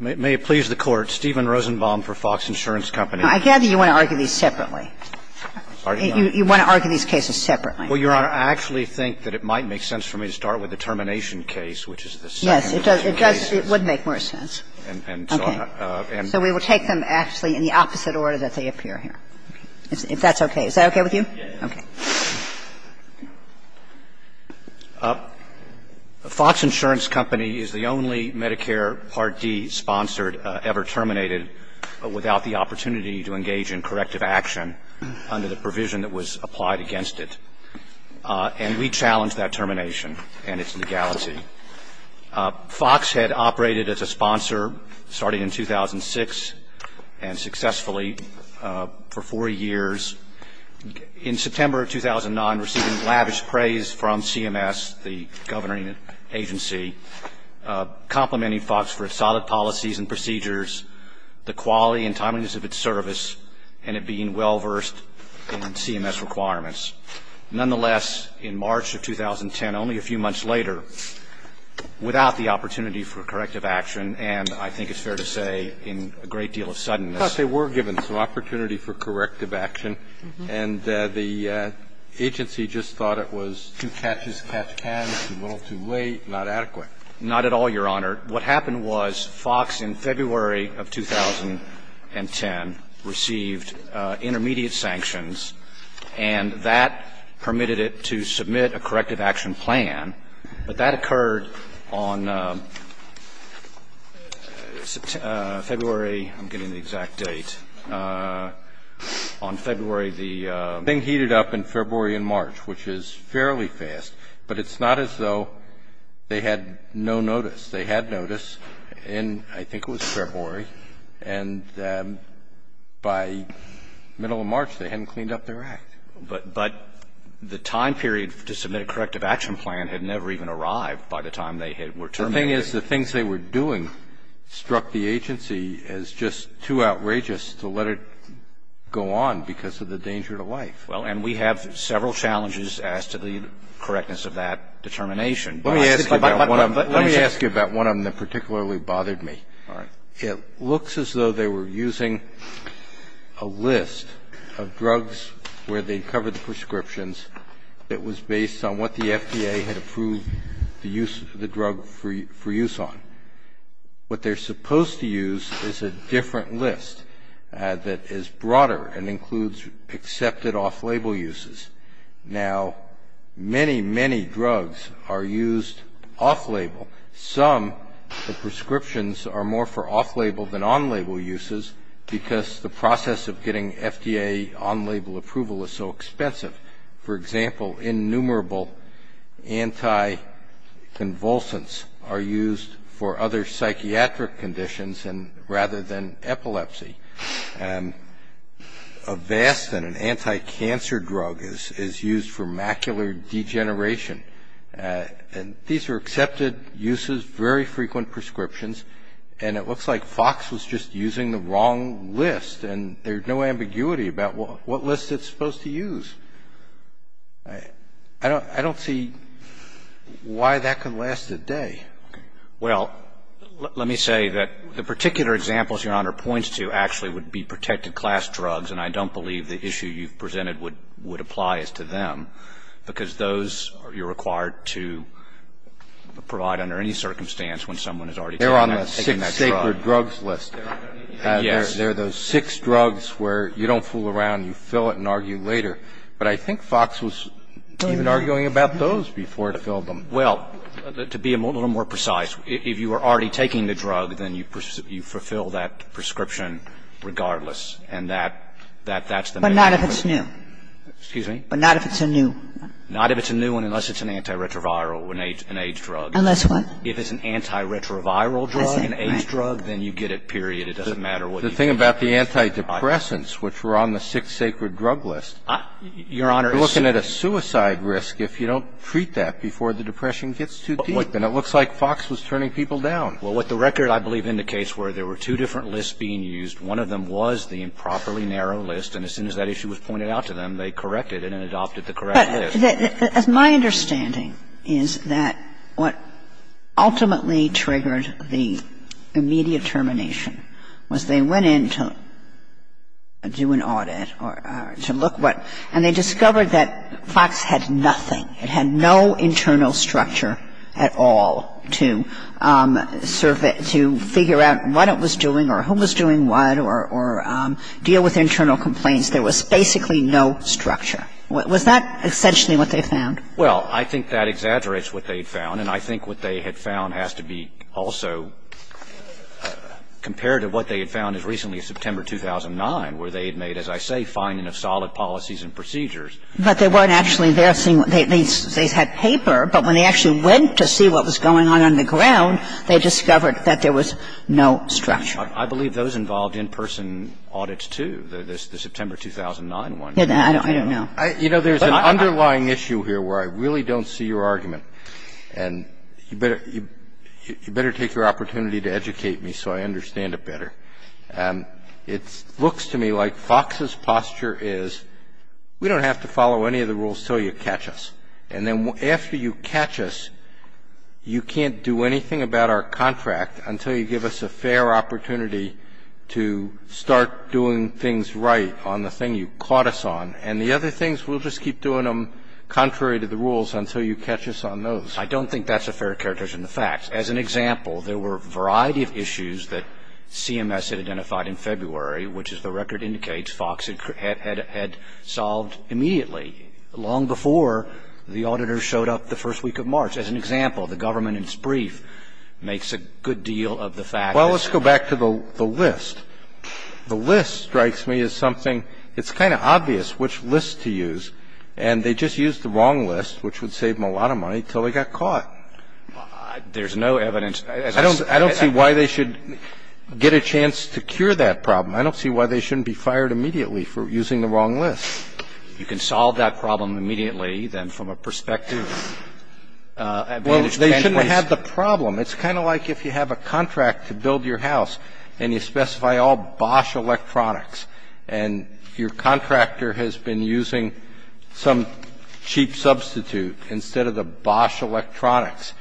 May it please the Court, Stephen Rosenbaum for Fox Insurance Company. I gather you want to argue these separately. You want to argue these cases separately. Well, Your Honor, I actually think that it might make sense for me to start with the termination case, which is the second case. Yes, it does. It would make more sense. And so we will take them actually in the opposite order that they appear here, if that's okay. Is that okay with you? Yes. Okay. Fox Insurance Company is the only Medicare Part D sponsored ever terminated without the opportunity to engage in corrective action under the provision that was applied against it. And we challenge that termination and its legality. Fox had operated as a sponsor starting in 2006 and successfully for four years. In September of 2009, receiving lavish praise from CMS, the governing agency, complimenting Fox for its solid policies and procedures, the quality and timeliness of its service, and it being well versed in CMS requirements. Nonetheless, in March of 2010, only a few months later, without the opportunity for corrective action, and I think it's fair to say in a great deal of suddenness the agency was given some opportunity for corrective action. And the agency just thought it was too catch-as-catch-can, a little too late, not adequate. Not at all, Your Honor. What happened was Fox in February of 2010 received intermediate sanctions, and that permitted it to submit a corrective action plan, but that occurred on February I'm getting the exact date. On February, the thing heated up in February and March, which is fairly fast, but it's not as though they had no notice. They had notice in, I think it was February, and by middle of March they hadn't cleaned up their act. But the time period to submit a corrective action plan had never even arrived by the time they were terminating. And the thing is, the things they were doing struck the agency as just too outrageous to let it go on because of the danger to life. Well, and we have several challenges as to the correctness of that determination. Let me ask you about one of them that particularly bothered me. All right. It looks as though they were using a list of drugs where they covered the prescriptions that was based on what the FDA had approved the drug for use on. What they're supposed to use is a different list that is broader and includes accepted off-label uses. Now, many, many drugs are used off-label. Some, the prescriptions are more for off-label than on-label uses because the process of getting FDA on-label approval is so expensive. For example, innumerable anti-convulsants are used for other psychiatric conditions rather than epilepsy. Avastin, an anti-cancer drug, is used for macular degeneration. And these are accepted uses, very frequent prescriptions, and it looks like Fox was just using the wrong list. And there's no ambiguity about what list it's supposed to use. I don't see why that could last a day. Well, let me say that the particular examples Your Honor points to actually would be protected class drugs, and I don't believe the issue you've presented would apply as to them, because those you're required to provide under any circumstance when someone has already taken that drug. They're on the six sacred drugs list. Yes. They're those six drugs where you don't fool around, you fill it and argue later. But I think Fox was even arguing about those before it filled them. Well, to be a little more precise, if you are already taking the drug, then you fulfill that prescription regardless. And that's the main point. But not if it's new. Excuse me? But not if it's a new. Not if it's a new one unless it's an antiretroviral, an AIDS drug. Unless what? If it's an antiretroviral drug, an AIDS drug, then you get it, period. It doesn't matter what you get. The thing about the antidepressants, which were on the six sacred drug list, you're looking at a suicide risk if you don't treat that before the depression gets too deep. And it looks like Fox was turning people down. Well, what the record, I believe, indicates were there were two different lists being used. One of them was the improperly narrow list, and as soon as that issue was pointed out to them, they corrected it and adopted the correct list. But my understanding is that what ultimately triggered the immediate termination was they went in to do an audit or to look what, and they discovered that Fox had nothing, it had no internal structure at all to figure out what it was doing or who was doing what or deal with internal complaints. There was basically no structure. Was that essentially what they found? Well, I think that exaggerates what they had found, and I think what they had found has to be also compared to what they had found as recently as September 2009, where they had made, as I say, fine enough solid policies and procedures. But they weren't actually there seeing what they had seen. They had paper, but when they actually went to see what was going on underground, they discovered that there was no structure. I believe those involved in person audits, too, the September 2009 ones. I don't know. You know, there's an underlying issue here where I really don't see your argument. And you better take your opportunity to educate me so I understand it better. It looks to me like Fox's posture is we don't have to follow any of the rules till you catch us, and then after you catch us, you can't do anything about our contract until you give us a fair opportunity to start doing things right on the thing you caught us on. And the other things, we'll just keep doing them contrary to the rules until you catch us on those. I don't think that's a fair characterization of facts. As an example, there were a variety of issues that CMS had identified in February, which, as the record indicates, Fox had solved immediately, long before the auditor showed up the first week of March. As an example, the government in its brief makes a good deal of the facts. Well, let's go back to the list. The list, strikes me, is something, it's kind of obvious which list to use. And they just used the wrong list, which would save them a lot of money till they got caught. There's no evidence. I don't see why they should get a chance to cure that problem. I don't see why they shouldn't be fired immediately for using the wrong list. You can solve that problem immediately, then, from a perspective. Well, they shouldn't have the problem. It's kind of like if you have a contract to build your house, and you specify all Bosch electronics, and your contractor has been using some cheap substitute instead of the Bosch electronics.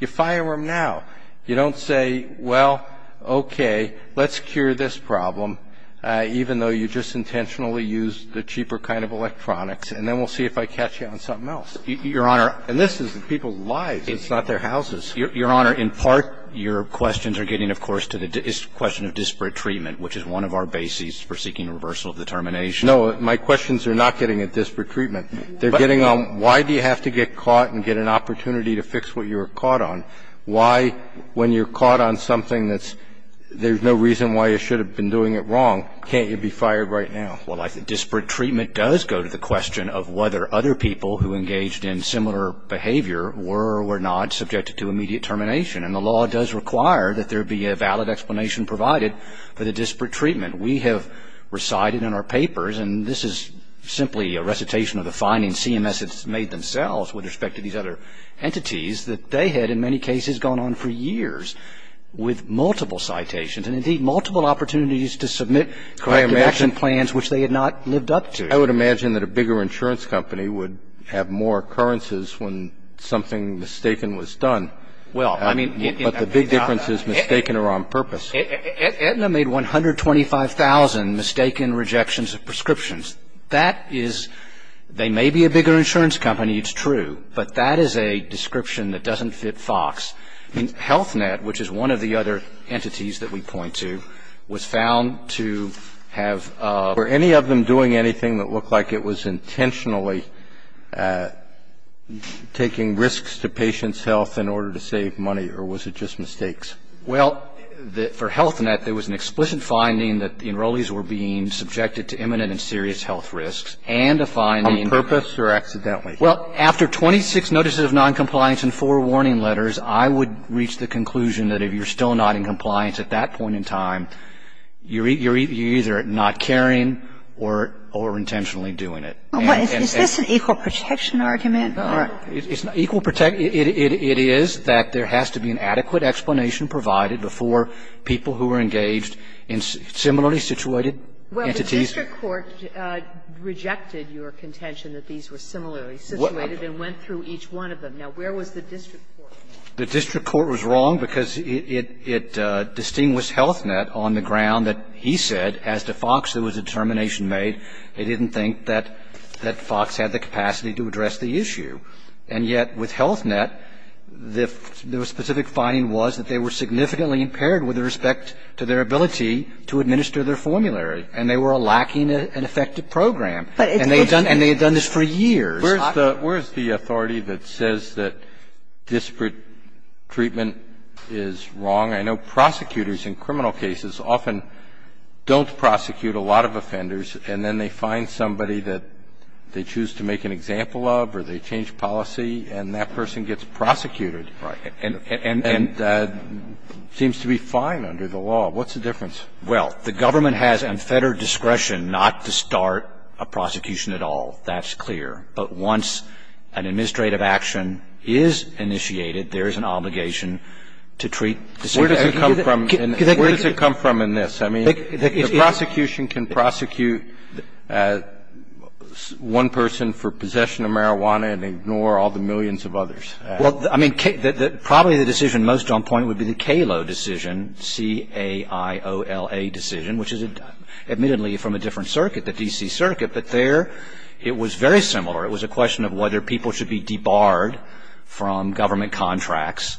You fire them now. You don't say, well, okay, let's cure this problem, even though you just intentionally used the cheaper kind of electronics, and then we'll see if I catch you on something else. Your Honor, and this is people's lives, it's not their houses. Your Honor, in part, your questions are getting, of course, to the question of disparate treatment, which is one of our bases for seeking reversal of determination. No, my questions are not getting at disparate treatment. They're getting on, why do you have to get caught and get an opportunity to fix what you were caught on? Why, when you're caught on something that's – there's no reason why you should have been doing it wrong, can't you be fired right now? Well, I think disparate treatment does go to the question of whether other people who engaged in similar behavior were or were not subjected to immediate termination, and the law does require that there be a valid explanation provided for the disparate treatment. We have recited in our papers, and this is simply a recitation of the findings CMS has made themselves with respect to these other entities, that they had, in many cases, gone on for years with multiple citations, and indeed, multiple opportunities to submit corrective action plans, which they had not lived up to. I would imagine that a bigger insurance company would have more occurrences when something mistaken was done. Well, I mean – But the big difference is mistaken or on purpose. Aetna made 125,000 mistaken rejections of prescriptions. That is – they may be a bigger insurance company, it's true, but that is a description that doesn't fit FOX. Health Net, which is one of the other entities that we point to, was found to have – were any of them doing anything that looked like it was intentionally taking risks to patients' health in order to save money, or was it just mistakes? Well, for Health Net, there was an explicit finding that the enrollees were being subjected to imminent and serious health risks, and a finding – On purpose or accidentally? Well, after 26 notices of noncompliance and four warning letters, I would reach the conclusion that if you're still not in compliance at that point in time, you're either not caring or intentionally doing it. Is this an equal protection argument? It is that there has to be an adequate explanation provided before people who are engaged in similarly situated entities. Well, the district court rejected your contention that these were similarly situated and went through each one of them. Now, where was the district court? The district court was wrong because it distinguished Health Net on the ground that he said as to FOX there was a determination made. They didn't think that FOX had the capacity to address the issue. And yet with Health Net, the specific finding was that they were significantly impaired with respect to their ability to administer their formulary, and they were lacking an effective program. And they had done this for years. Where is the authority that says that disparate treatment is wrong? I know prosecutors in criminal cases often don't prosecute a lot of offenders, and then they find somebody that they choose to make an example of or they change policy, and that person gets prosecuted. And that seems to be fine under the law. What's the difference? Well, the government has unfettered discretion not to start a prosecution at all. That's clear. But once an administrative action is initiated, there is an obligation to treat the same people. Where does it come from in this? I mean, the prosecution can prosecute one person for possession of marijuana and ignore all the millions of others. Well, I mean, probably the decision most on point would be the Kalo decision, C-A-I-O-L-A decision, which is admittedly from a different circuit, the D.C. circuit, but there it was very similar. It was a question of whether people should be debarred from government contracts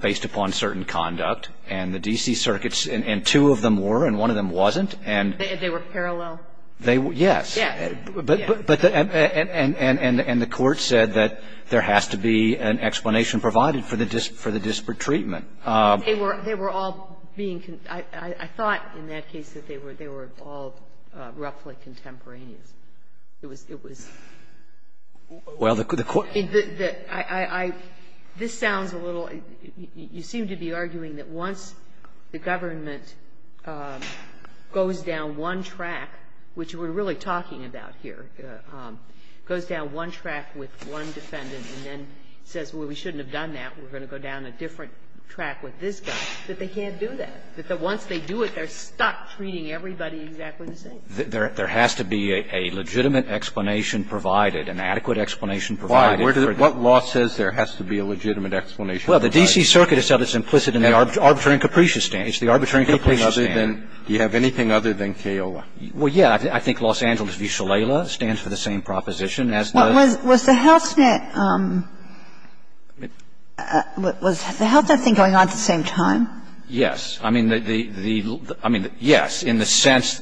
based upon certain conduct. And the D.C. circuits, and two of them were, and one of them wasn't, and They were parallel? They were, yes. Yes. But, and the court said that there has to be an explanation provided for the disparate treatment. They were all being, I thought in that case that they were all roughly contemporaneous. It was, it was, well, the court, the, I, I, this sounds a little, you seem to be arguing that once the government goes down one track, which we're really talking about here, goes down one track with one defendant and then says, well, we shouldn't have done that, we're going to go down a different track with this guy, that they can't do that. But once they do it, they're stuck treating everybody exactly the same. There, there has to be a legitimate explanation provided, an adequate explanation provided. Why, what law says there has to be a legitimate explanation provided? Well, the D.C. circuit itself is implicit in the arbitrary and capricious stand. It's the arbitrary and capricious stand. Do you have anything other than, do you have anything other than CAOLA? Well, yeah. I think Los Angeles v. Shalala stands for the same proposition as the Was, was the HealthNet, was the HealthNet thing going on at the same time? Yes. I mean, the, the, the, I mean, yes, in the sense,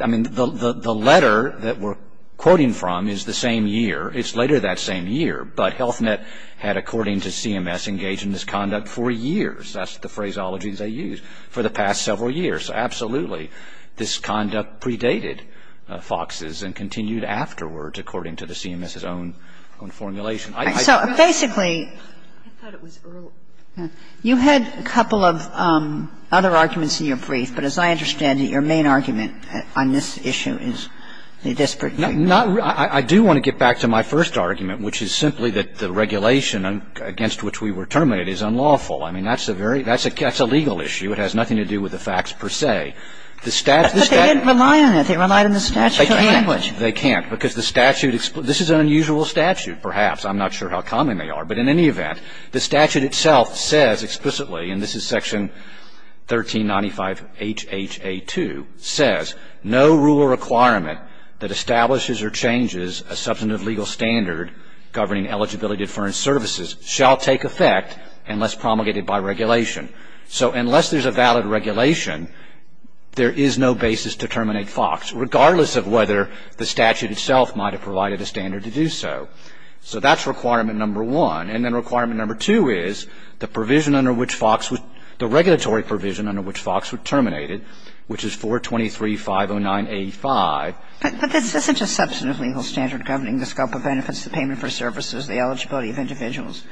I mean, the, the, the letter that we're quoting from is the same year. It's later that same year. But HealthNet had, according to CMS, engaged in this conduct for years. That's the phraseologies I used, for the past several years. So absolutely, this conduct predated Fox's and continued afterwards, according to the CMS's own, own formulation. So, basically, you had a couple of other arguments in your brief, but as I understand it, your main argument on this issue is the disparate view. Not, I do want to get back to my first argument, which is simply that the regulation against which we were terminated is unlawful. I mean, that's a very, that's a, that's a legal issue. It has nothing to do with the facts, per se. The statute, the statute But they didn't rely on it. They relied on the statute. They can't, they can't, because the statute, this is an unusual statute, perhaps. I'm not sure how common they are. But in any event, the statute itself says, explicitly, and this is Section 1395HHA2, says no rule or requirement that establishes or changes a substantive legal standard governing eligibility deferred services shall take effect unless promulgated by regulation. So unless there's a valid regulation, there is no basis to terminate Fox, regardless of whether the statute itself might have provided a standard to do so. So that's requirement number one. And then requirement number two is the provision under which Fox was, the regulatory provision under which Fox was terminated, which is 423.509.85. But this isn't a substantive legal standard governing the scope of benefits, the payment for services, the eligibility of individuals.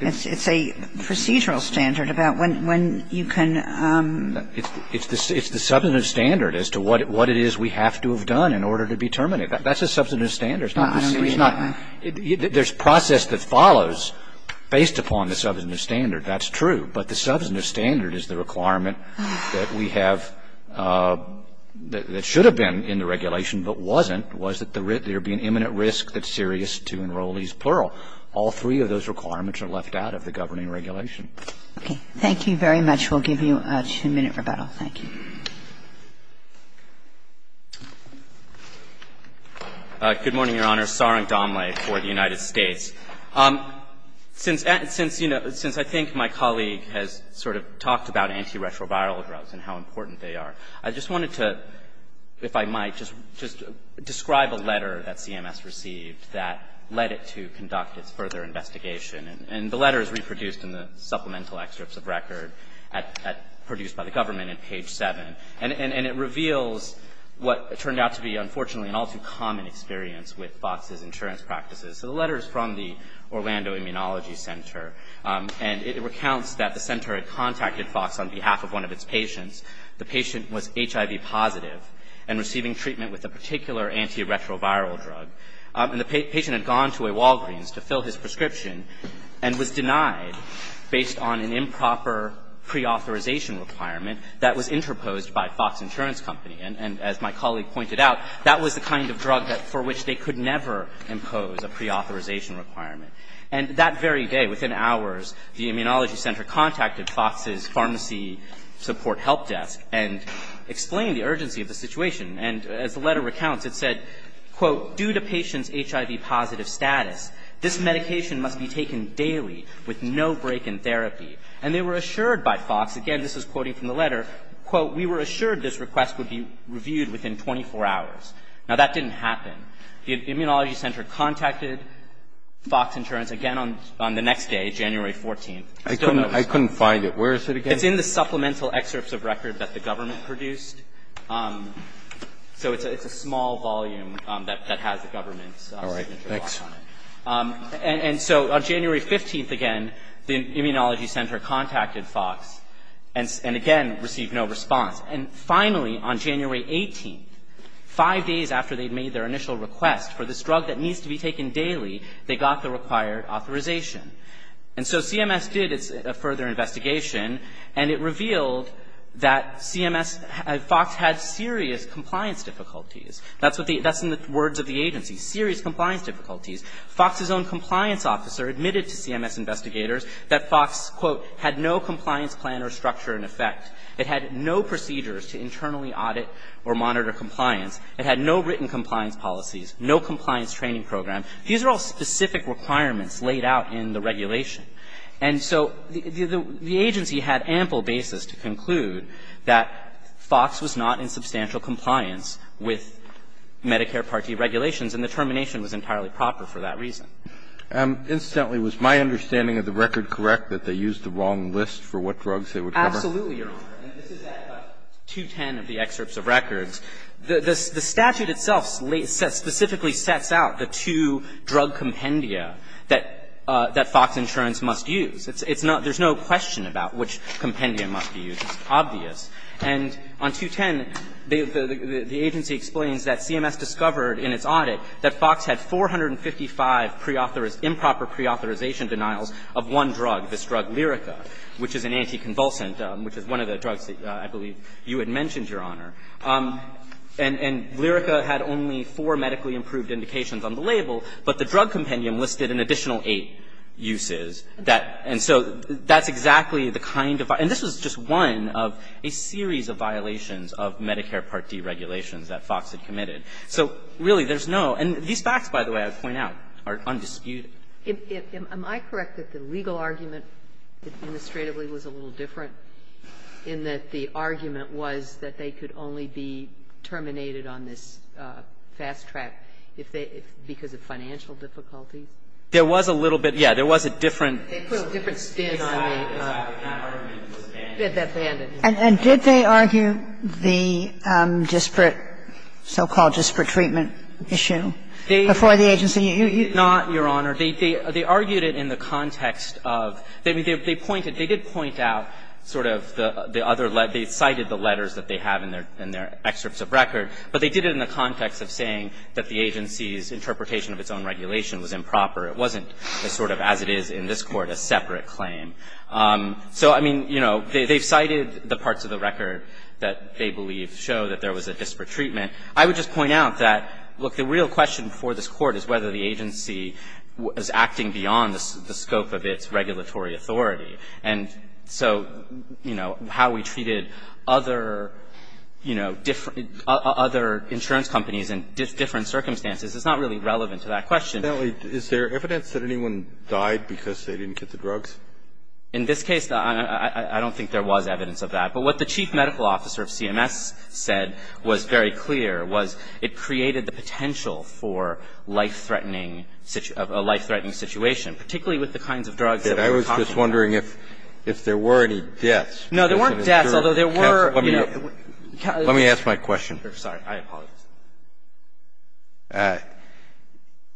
It's a procedural standard about when you can It's the substantive standard as to what it is we have to have done in order to be terminated. That's a substantive standard. There's process that follows based upon the substantive standard. That's true. But the substantive standard is the requirement that we have that should have been in the regulation but wasn't, was that there would be an imminent risk that's serious to enrollees, plural. All three of those requirements are left out of the governing regulation. Okay. Thank you very much. We'll give you a two-minute rebuttal. Thank you. Good morning, Your Honor. Saurang Dombly for the United States. Since, you know, since I think my colleague has sort of talked about antiretroviral drugs and how important they are, I just wanted to, if I might, just describe a letter that CMS received that led it to conduct its further investigation. And the letter is reproduced in the supplemental excerpts of record produced by the government at page 7. And it reveals what turned out to be, unfortunately, an all too common experience with Fox's insurance practices. So the letter is from the Orlando Immunology Center. And it recounts that the center had contacted Fox on behalf of one of its patients. The patient was HIV positive and receiving treatment with a particular antiretroviral drug. And the patient had gone to a Walgreens to fill his prescription and was denied based on an improper preauthorization requirement that was interposed by Fox Insurance Company. And as my colleague pointed out, that was the kind of drug for which they could never impose a preauthorization requirement. And that very day, within hours, the immunology center contacted Fox's pharmacy support help desk and explained the urgency of the situation. And as the letter recounts, it said, quote, due to patient's HIV positive status, this medication must be taken daily with no break in therapy. And they were assured by Fox, again, this is quoting from the letter, quote, we were assured this request would be reviewed within 24 hours. Now, that didn't happen. The immunology center contacted Fox Insurance again on the next day, January 14th. I still don't know the story. I couldn't find it. Where is it again? It's in the supplemental excerpts of record that the government produced. So it's a small volume that has the government's signature on it. And so on January 15th, again, the immunology center contacted Fox and again received no response. And finally, on January 18th, five days after they'd made their initial request for this drug that needs to be taken daily, they got the required authorization. And so CMS did its further investigation, and it revealed that CMS, Fox had serious compliance difficulties. That's what the that's in the words of the agency, serious compliance difficulties. Fox's own compliance officer admitted to CMS investigators that Fox, quote, had no compliance plan or structure in effect. It had no procedures to internally audit or monitor compliance. It had no written compliance policies, no compliance training program. These are all specific requirements laid out in the regulation. And so the agency had ample basis to conclude that Fox was not in substantial compliance with Medicare Part D regulations, and the termination was entirely improper for that reason. And incidentally, was my understanding of the record correct, that they used the wrong list for what drugs they would cover? Absolutely, Your Honor. And this is at 210 of the excerpts of records. The statute itself specifically sets out the two drug compendia that Fox Insurance must use. It's not there's no question about which compendia must be used. It's obvious. And on 210, the agency explains that CMS discovered in its audit that Fox had 455 improper preauthorization denials of one drug, this drug Lyrica, which is an anticonvulsant, which is one of the drugs that I believe you had mentioned, Your Honor. And Lyrica had only four medically improved indications on the label, but the drug compendium listed an additional eight uses. And so that's exactly the kind of – and this was just one of a series of reports that Fox had made, a series of violations of Medicare Part D regulations that Fox had committed. So really, there's no – and these facts, by the way, I point out, are undisputed. Am I correct that the legal argument administratively was a little different in that the argument was that they could only be terminated on this fast track if they – because of financial difficulties? There was a little bit, yes. There was a different spin on the argument that was abandoned. And did they argue the disparate, so-called disparate treatment issue before the agency? Not, Your Honor. They argued it in the context of – they pointed – they did point out sort of the other – they cited the letters that they have in their excerpts of record, but they did it in the context of saying that the agency's interpretation of its own regulation was improper, it wasn't as sort of as it is in this Court, a separate claim. So, I mean, you know, they've cited the parts of the record that they believe show that there was a disparate treatment. I would just point out that, look, the real question for this Court is whether the agency is acting beyond the scope of its regulatory authority. And so, you know, how we treated other, you know, different – other insurance companies in different circumstances is not really relevant to that question. Kennedy, is there evidence that anyone died because they didn't get the drugs? In this case, I don't think there was evidence of that. But what the chief medical officer of CMS said was very clear, was it created the potential for life-threatening – a life-threatening situation, particularly with the kinds of drugs that we were talking about. I was just wondering if there were any deaths. No, there weren't deaths, although there were, you know – Let me ask my question. I'm sorry. I apologize.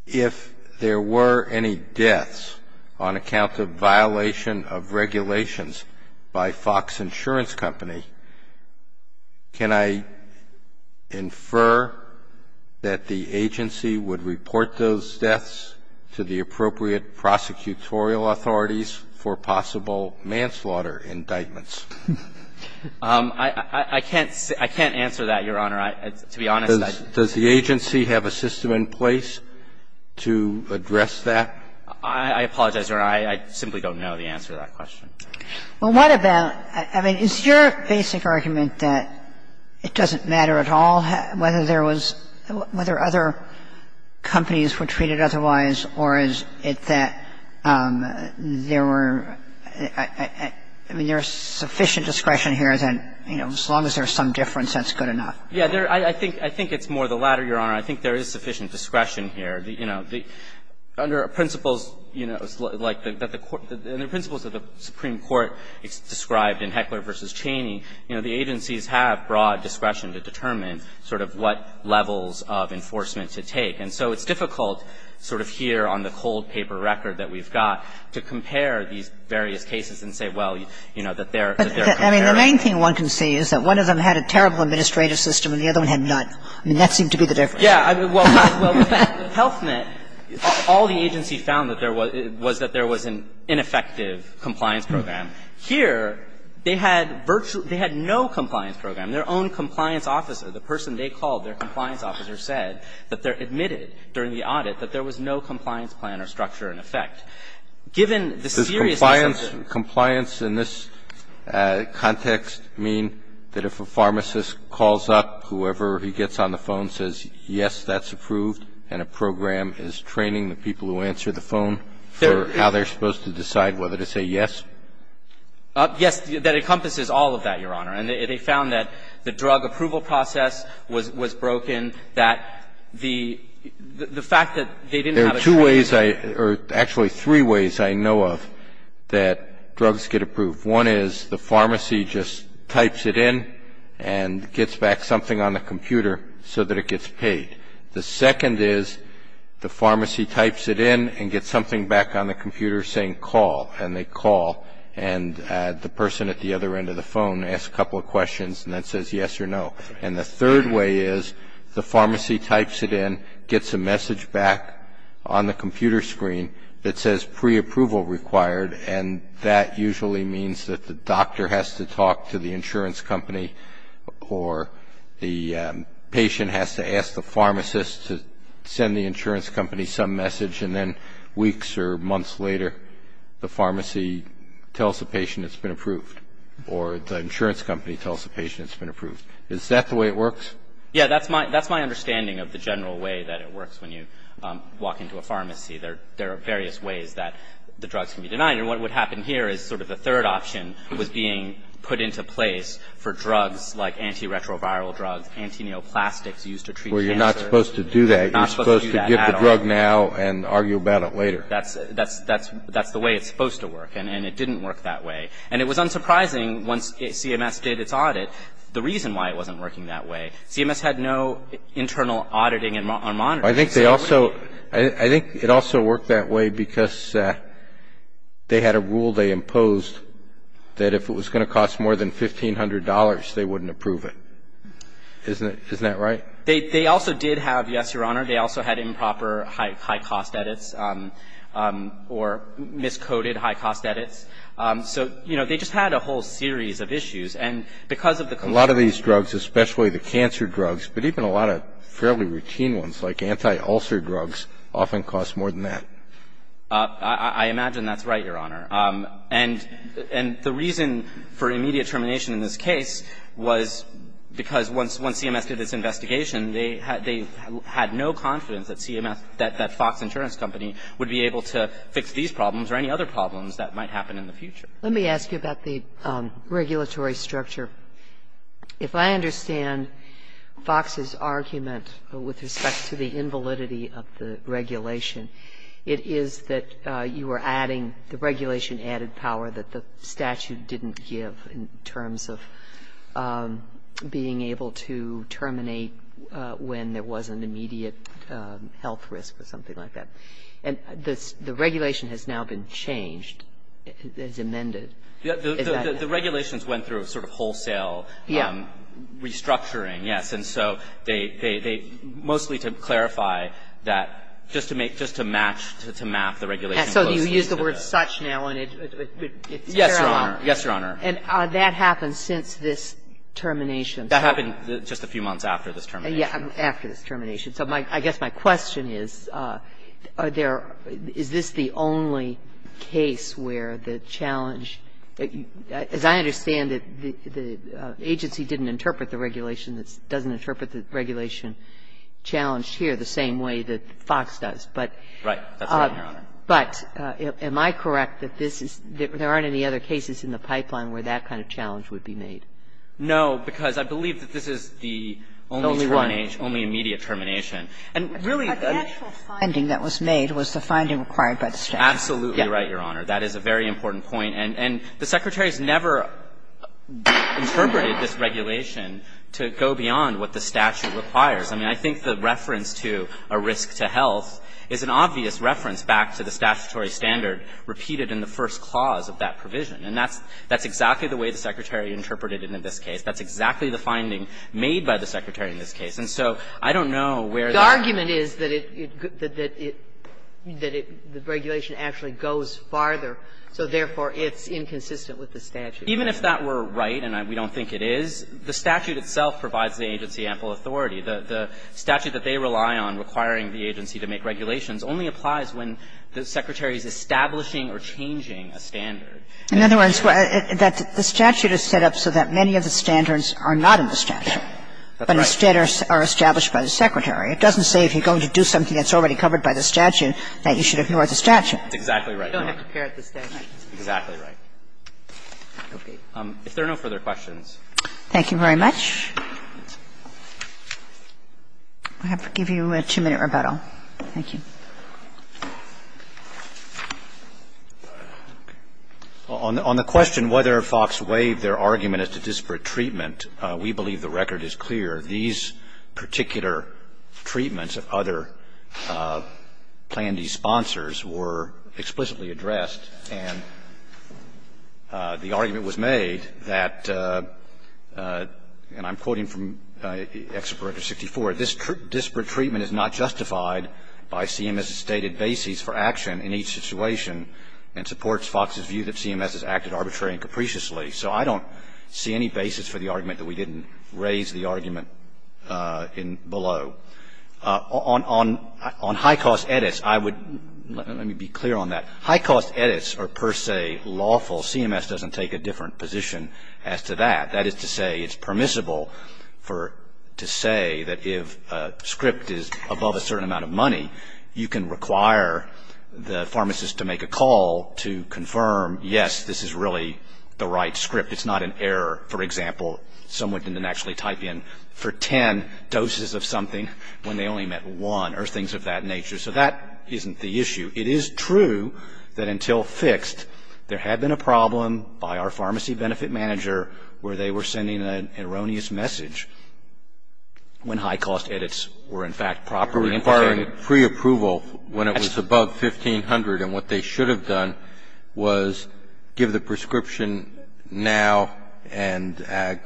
If there were any deaths on account of violation of regulations by Fox Insurance Company, can I infer that the agency would report those deaths to the appropriate prosecutorial authorities for possible manslaughter indictments? I can't say – I can't answer that, Your Honor. To be honest, I don't know. Does the agency have a system in place to address that? I apologize, Your Honor. I simply don't know the answer to that question. Well, what about – I mean, is your basic argument that it doesn't matter at all whether there was – whether other companies were treated otherwise, or is it that there were – I mean, there's sufficient discretion here that, you know, as long as there's some difference, that's good enough? Yeah, there – I think – I think it's more the latter, Your Honor. I think there is sufficient discretion here. You know, under principles, you know, like the court – the principles of the Supreme Court described in Heckler v. Cheney, you know, the agencies have broad discretion to determine sort of what levels of enforcement to take. And so it's difficult sort of here on the cold paper record that we've got to compare these various cases and say, well, you know, that they're – that they're the same. And the other one had none. I mean, that seemed to be the difference. Yeah. Well, Health Net, all the agency found that there was – was that there was an ineffective compliance program. Here, they had virtually – they had no compliance program. Their own compliance officer, the person they called their compliance officer, said that they're admitted during the audit that there was no compliance plan or structure in effect. Given the seriousness of the – Does compliance in this context mean that if a pharmacist calls up, whoever he gets on the phone says, yes, that's approved, and a program is training the people who answer the phone for how they're supposed to decide whether to say yes? Yes. That encompasses all of that, Your Honor. And they found that the drug approval process was broken, that the fact that they didn't have a training plan. There are two ways I – or actually, three ways I know of that drugs get approved. One is the pharmacy just types it in and gets back something on the computer so that it gets paid. The second is the pharmacy types it in and gets something back on the computer saying call, and they call. And the person at the other end of the phone asks a couple of questions and then says yes or no. And the third way is the pharmacy types it in, gets a message back on the computer screen that says preapproval required, and that usually means that the doctor has to talk to the insurance company or the patient has to ask the pharmacist to send the insurance company some message, and then weeks or months later, the pharmacy tells the patient it's been approved or the insurance company tells the patient it's been approved. Is that the way it works? Yeah, that's my understanding of the general way that it works when you walk into a pharmacy. There are various ways that the drugs can be denied. And what would happen here is sort of the third option was being put into place for drugs like antiretroviral drugs, antineoplastics used to treat cancer. Well, you're not supposed to do that. You're supposed to get the drug now and argue about it later. That's the way it's supposed to work, and it didn't work that way. And it was unsurprising once CMS did its audit, the reason why it wasn't working that way. CMS had no internal auditing or monitoring. I think they also – I think it also worked that way because they had a rule they imposed that if it was going to cost more than $1,500, they wouldn't approve it. Isn't that right? They also did have, yes, Your Honor, they also had improper high-cost edits or miscoded high-cost edits. So, you know, they just had a whole series of issues. And because of the – A lot of these drugs, especially the cancer drugs, but even a lot of fairly routine ones like anti-ulcer drugs, often cost more than that. I imagine that's right, Your Honor. And the reason for immediate termination in this case was because once CMS did this investigation, they had no confidence that CMS, that Fox Insurance Company would be able to fix these problems or any other problems that might happen in the future. Let me ask you about the regulatory structure. If I understand Fox's argument with respect to the invalidity of the regulation, it is that you are adding the regulation-added power that the statute didn't give in terms of being able to terminate when there was an immediate health risk or something like that. And the regulation has now been changed, as amended. Is that the case? The regulations went through a sort of wholesale restructuring, yes. And so they mostly to clarify that just to make – just to match, to map the regulation closely to the – So you use the word such now, and it's fair enough. Yes, Your Honor. Yes, Your Honor. And that happened since this termination. That happened just a few months after this termination. Yes, after this termination. So I guess my question is, are there – is this the only case where the challenge – as I understand it, the agency didn't interpret the regulation, doesn't interpret the regulation challenged here the same way that Fox does. Right. That's right, Your Honor. But am I correct that this is – there aren't any other cases in the pipeline where that kind of challenge would be made? No, because I believe that this is the only termination – The only one. – that's the only termination. And really – But the actual finding that was made was the finding required by the statute. Absolutely right, Your Honor. That is a very important point. And the Secretary's never interpreted this regulation to go beyond what the statute requires. I mean, I think the reference to a risk to health is an obvious reference back to the statutory standard repeated in the first clause of that provision. And that's exactly the way the Secretary interpreted it in this case. That's exactly the finding made by the Secretary in this case. And so I don't know where the – The argument is that it – that it – that it – the regulation actually goes farther, so therefore it's inconsistent with the statute. Even if that were right, and we don't think it is, the statute itself provides the agency ample authority. The statute that they rely on requiring the agency to make regulations only applies when the Secretary is establishing or changing a standard. In other words, the statute is set up so that many of the standards are not in the statute. That's right. But instead are established by the Secretary. It doesn't say if you're going to do something that's already covered by the statute that you should ignore the statute. That's exactly right. You don't have to care at the statute. Exactly right. Okay. If there are no further questions. Thank you very much. I have to give you a two-minute rebuttal. Thank you. On the question whether Fox waived their argument as to disparate treatment, we believe the record is clear. These particular treatments of other Plan D sponsors were explicitly addressed. And the argument was made that, and I'm quoting from Executive Order 64, this disparate treatment is not justified by CMS's stated basis for action in each situation and supports Fox's view that CMS has acted arbitrarily and capriciously. So I don't see any basis for the argument that we didn't raise the argument in below. On high-cost edits, I would, let me be clear on that, high-cost edits are per se lawful. CMS doesn't take a different position as to that. That is to say it's permissible to say that if a script is above a certain amount of money, you can require the pharmacist to make a call to confirm, yes, this is really the right script. It's not an error. For example, someone can then actually type in for 10 doses of something when they only met one or things of that nature. So that isn't the issue. It is true that until fixed, there had been a problem by our pharmacy benefit manager where they were sending an erroneous message when high-cost edits were, in fact, properly implemented. And pre-approval, when it was above $1,500 and what they should have done was give the prescription now and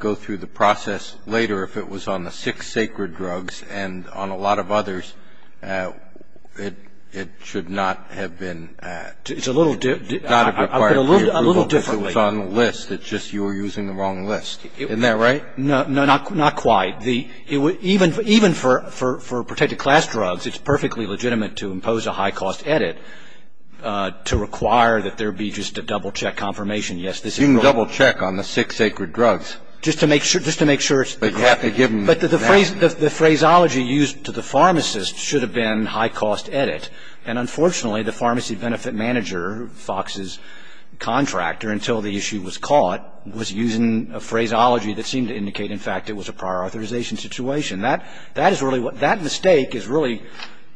go through the process later if it was on the six sacred drugs and on a lot of others, it should not have been, not have required pre-approval if it was on the list, it's just you were using the wrong list. Isn't that right? No, not quite. Even for protected class drugs, it's perfectly legitimate to impose a high-cost edit to require that there be just a double-check confirmation, yes, this is wrong. You can double-check on the six sacred drugs. Just to make sure it's the correct. But the phraseology used to the pharmacist should have been high-cost edit. And unfortunately, the pharmacy benefit manager, Fox's contractor, until the issue was caught, was using a phraseology that seemed to indicate, in fact, it was a prior authorization situation. That is really what, that mistake is really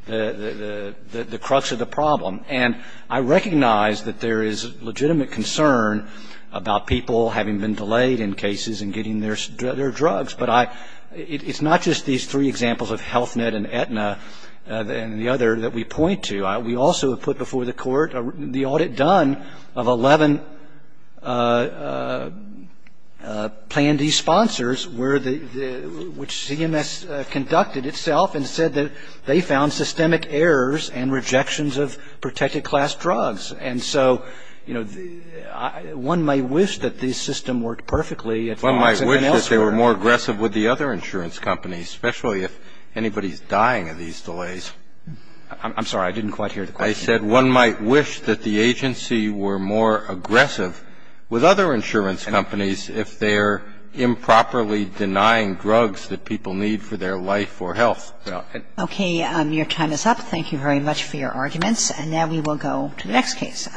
the crux of the problem. And I recognize that there is legitimate concern about people having been delayed in cases and getting their drugs, but I, it's not just these three examples of Health Net and Aetna and the other that we point to. We also have put before the court the audit done of 11 Plan D sponsors where the, which CMS conducted itself and said that they found systemic errors and rejections of protected class drugs. And so, you know, one may wish that this system worked perfectly. One might wish that they were more aggressive with the other insurance companies, especially if anybody's dying of these delays. I'm sorry, I didn't quite hear the question. I said one might wish that the agency were more aggressive with other insurance companies if they're improperly denying drugs that people need for their life or health. Okay, your time is up. Thank you very much for your arguments. And now we will go to the next case.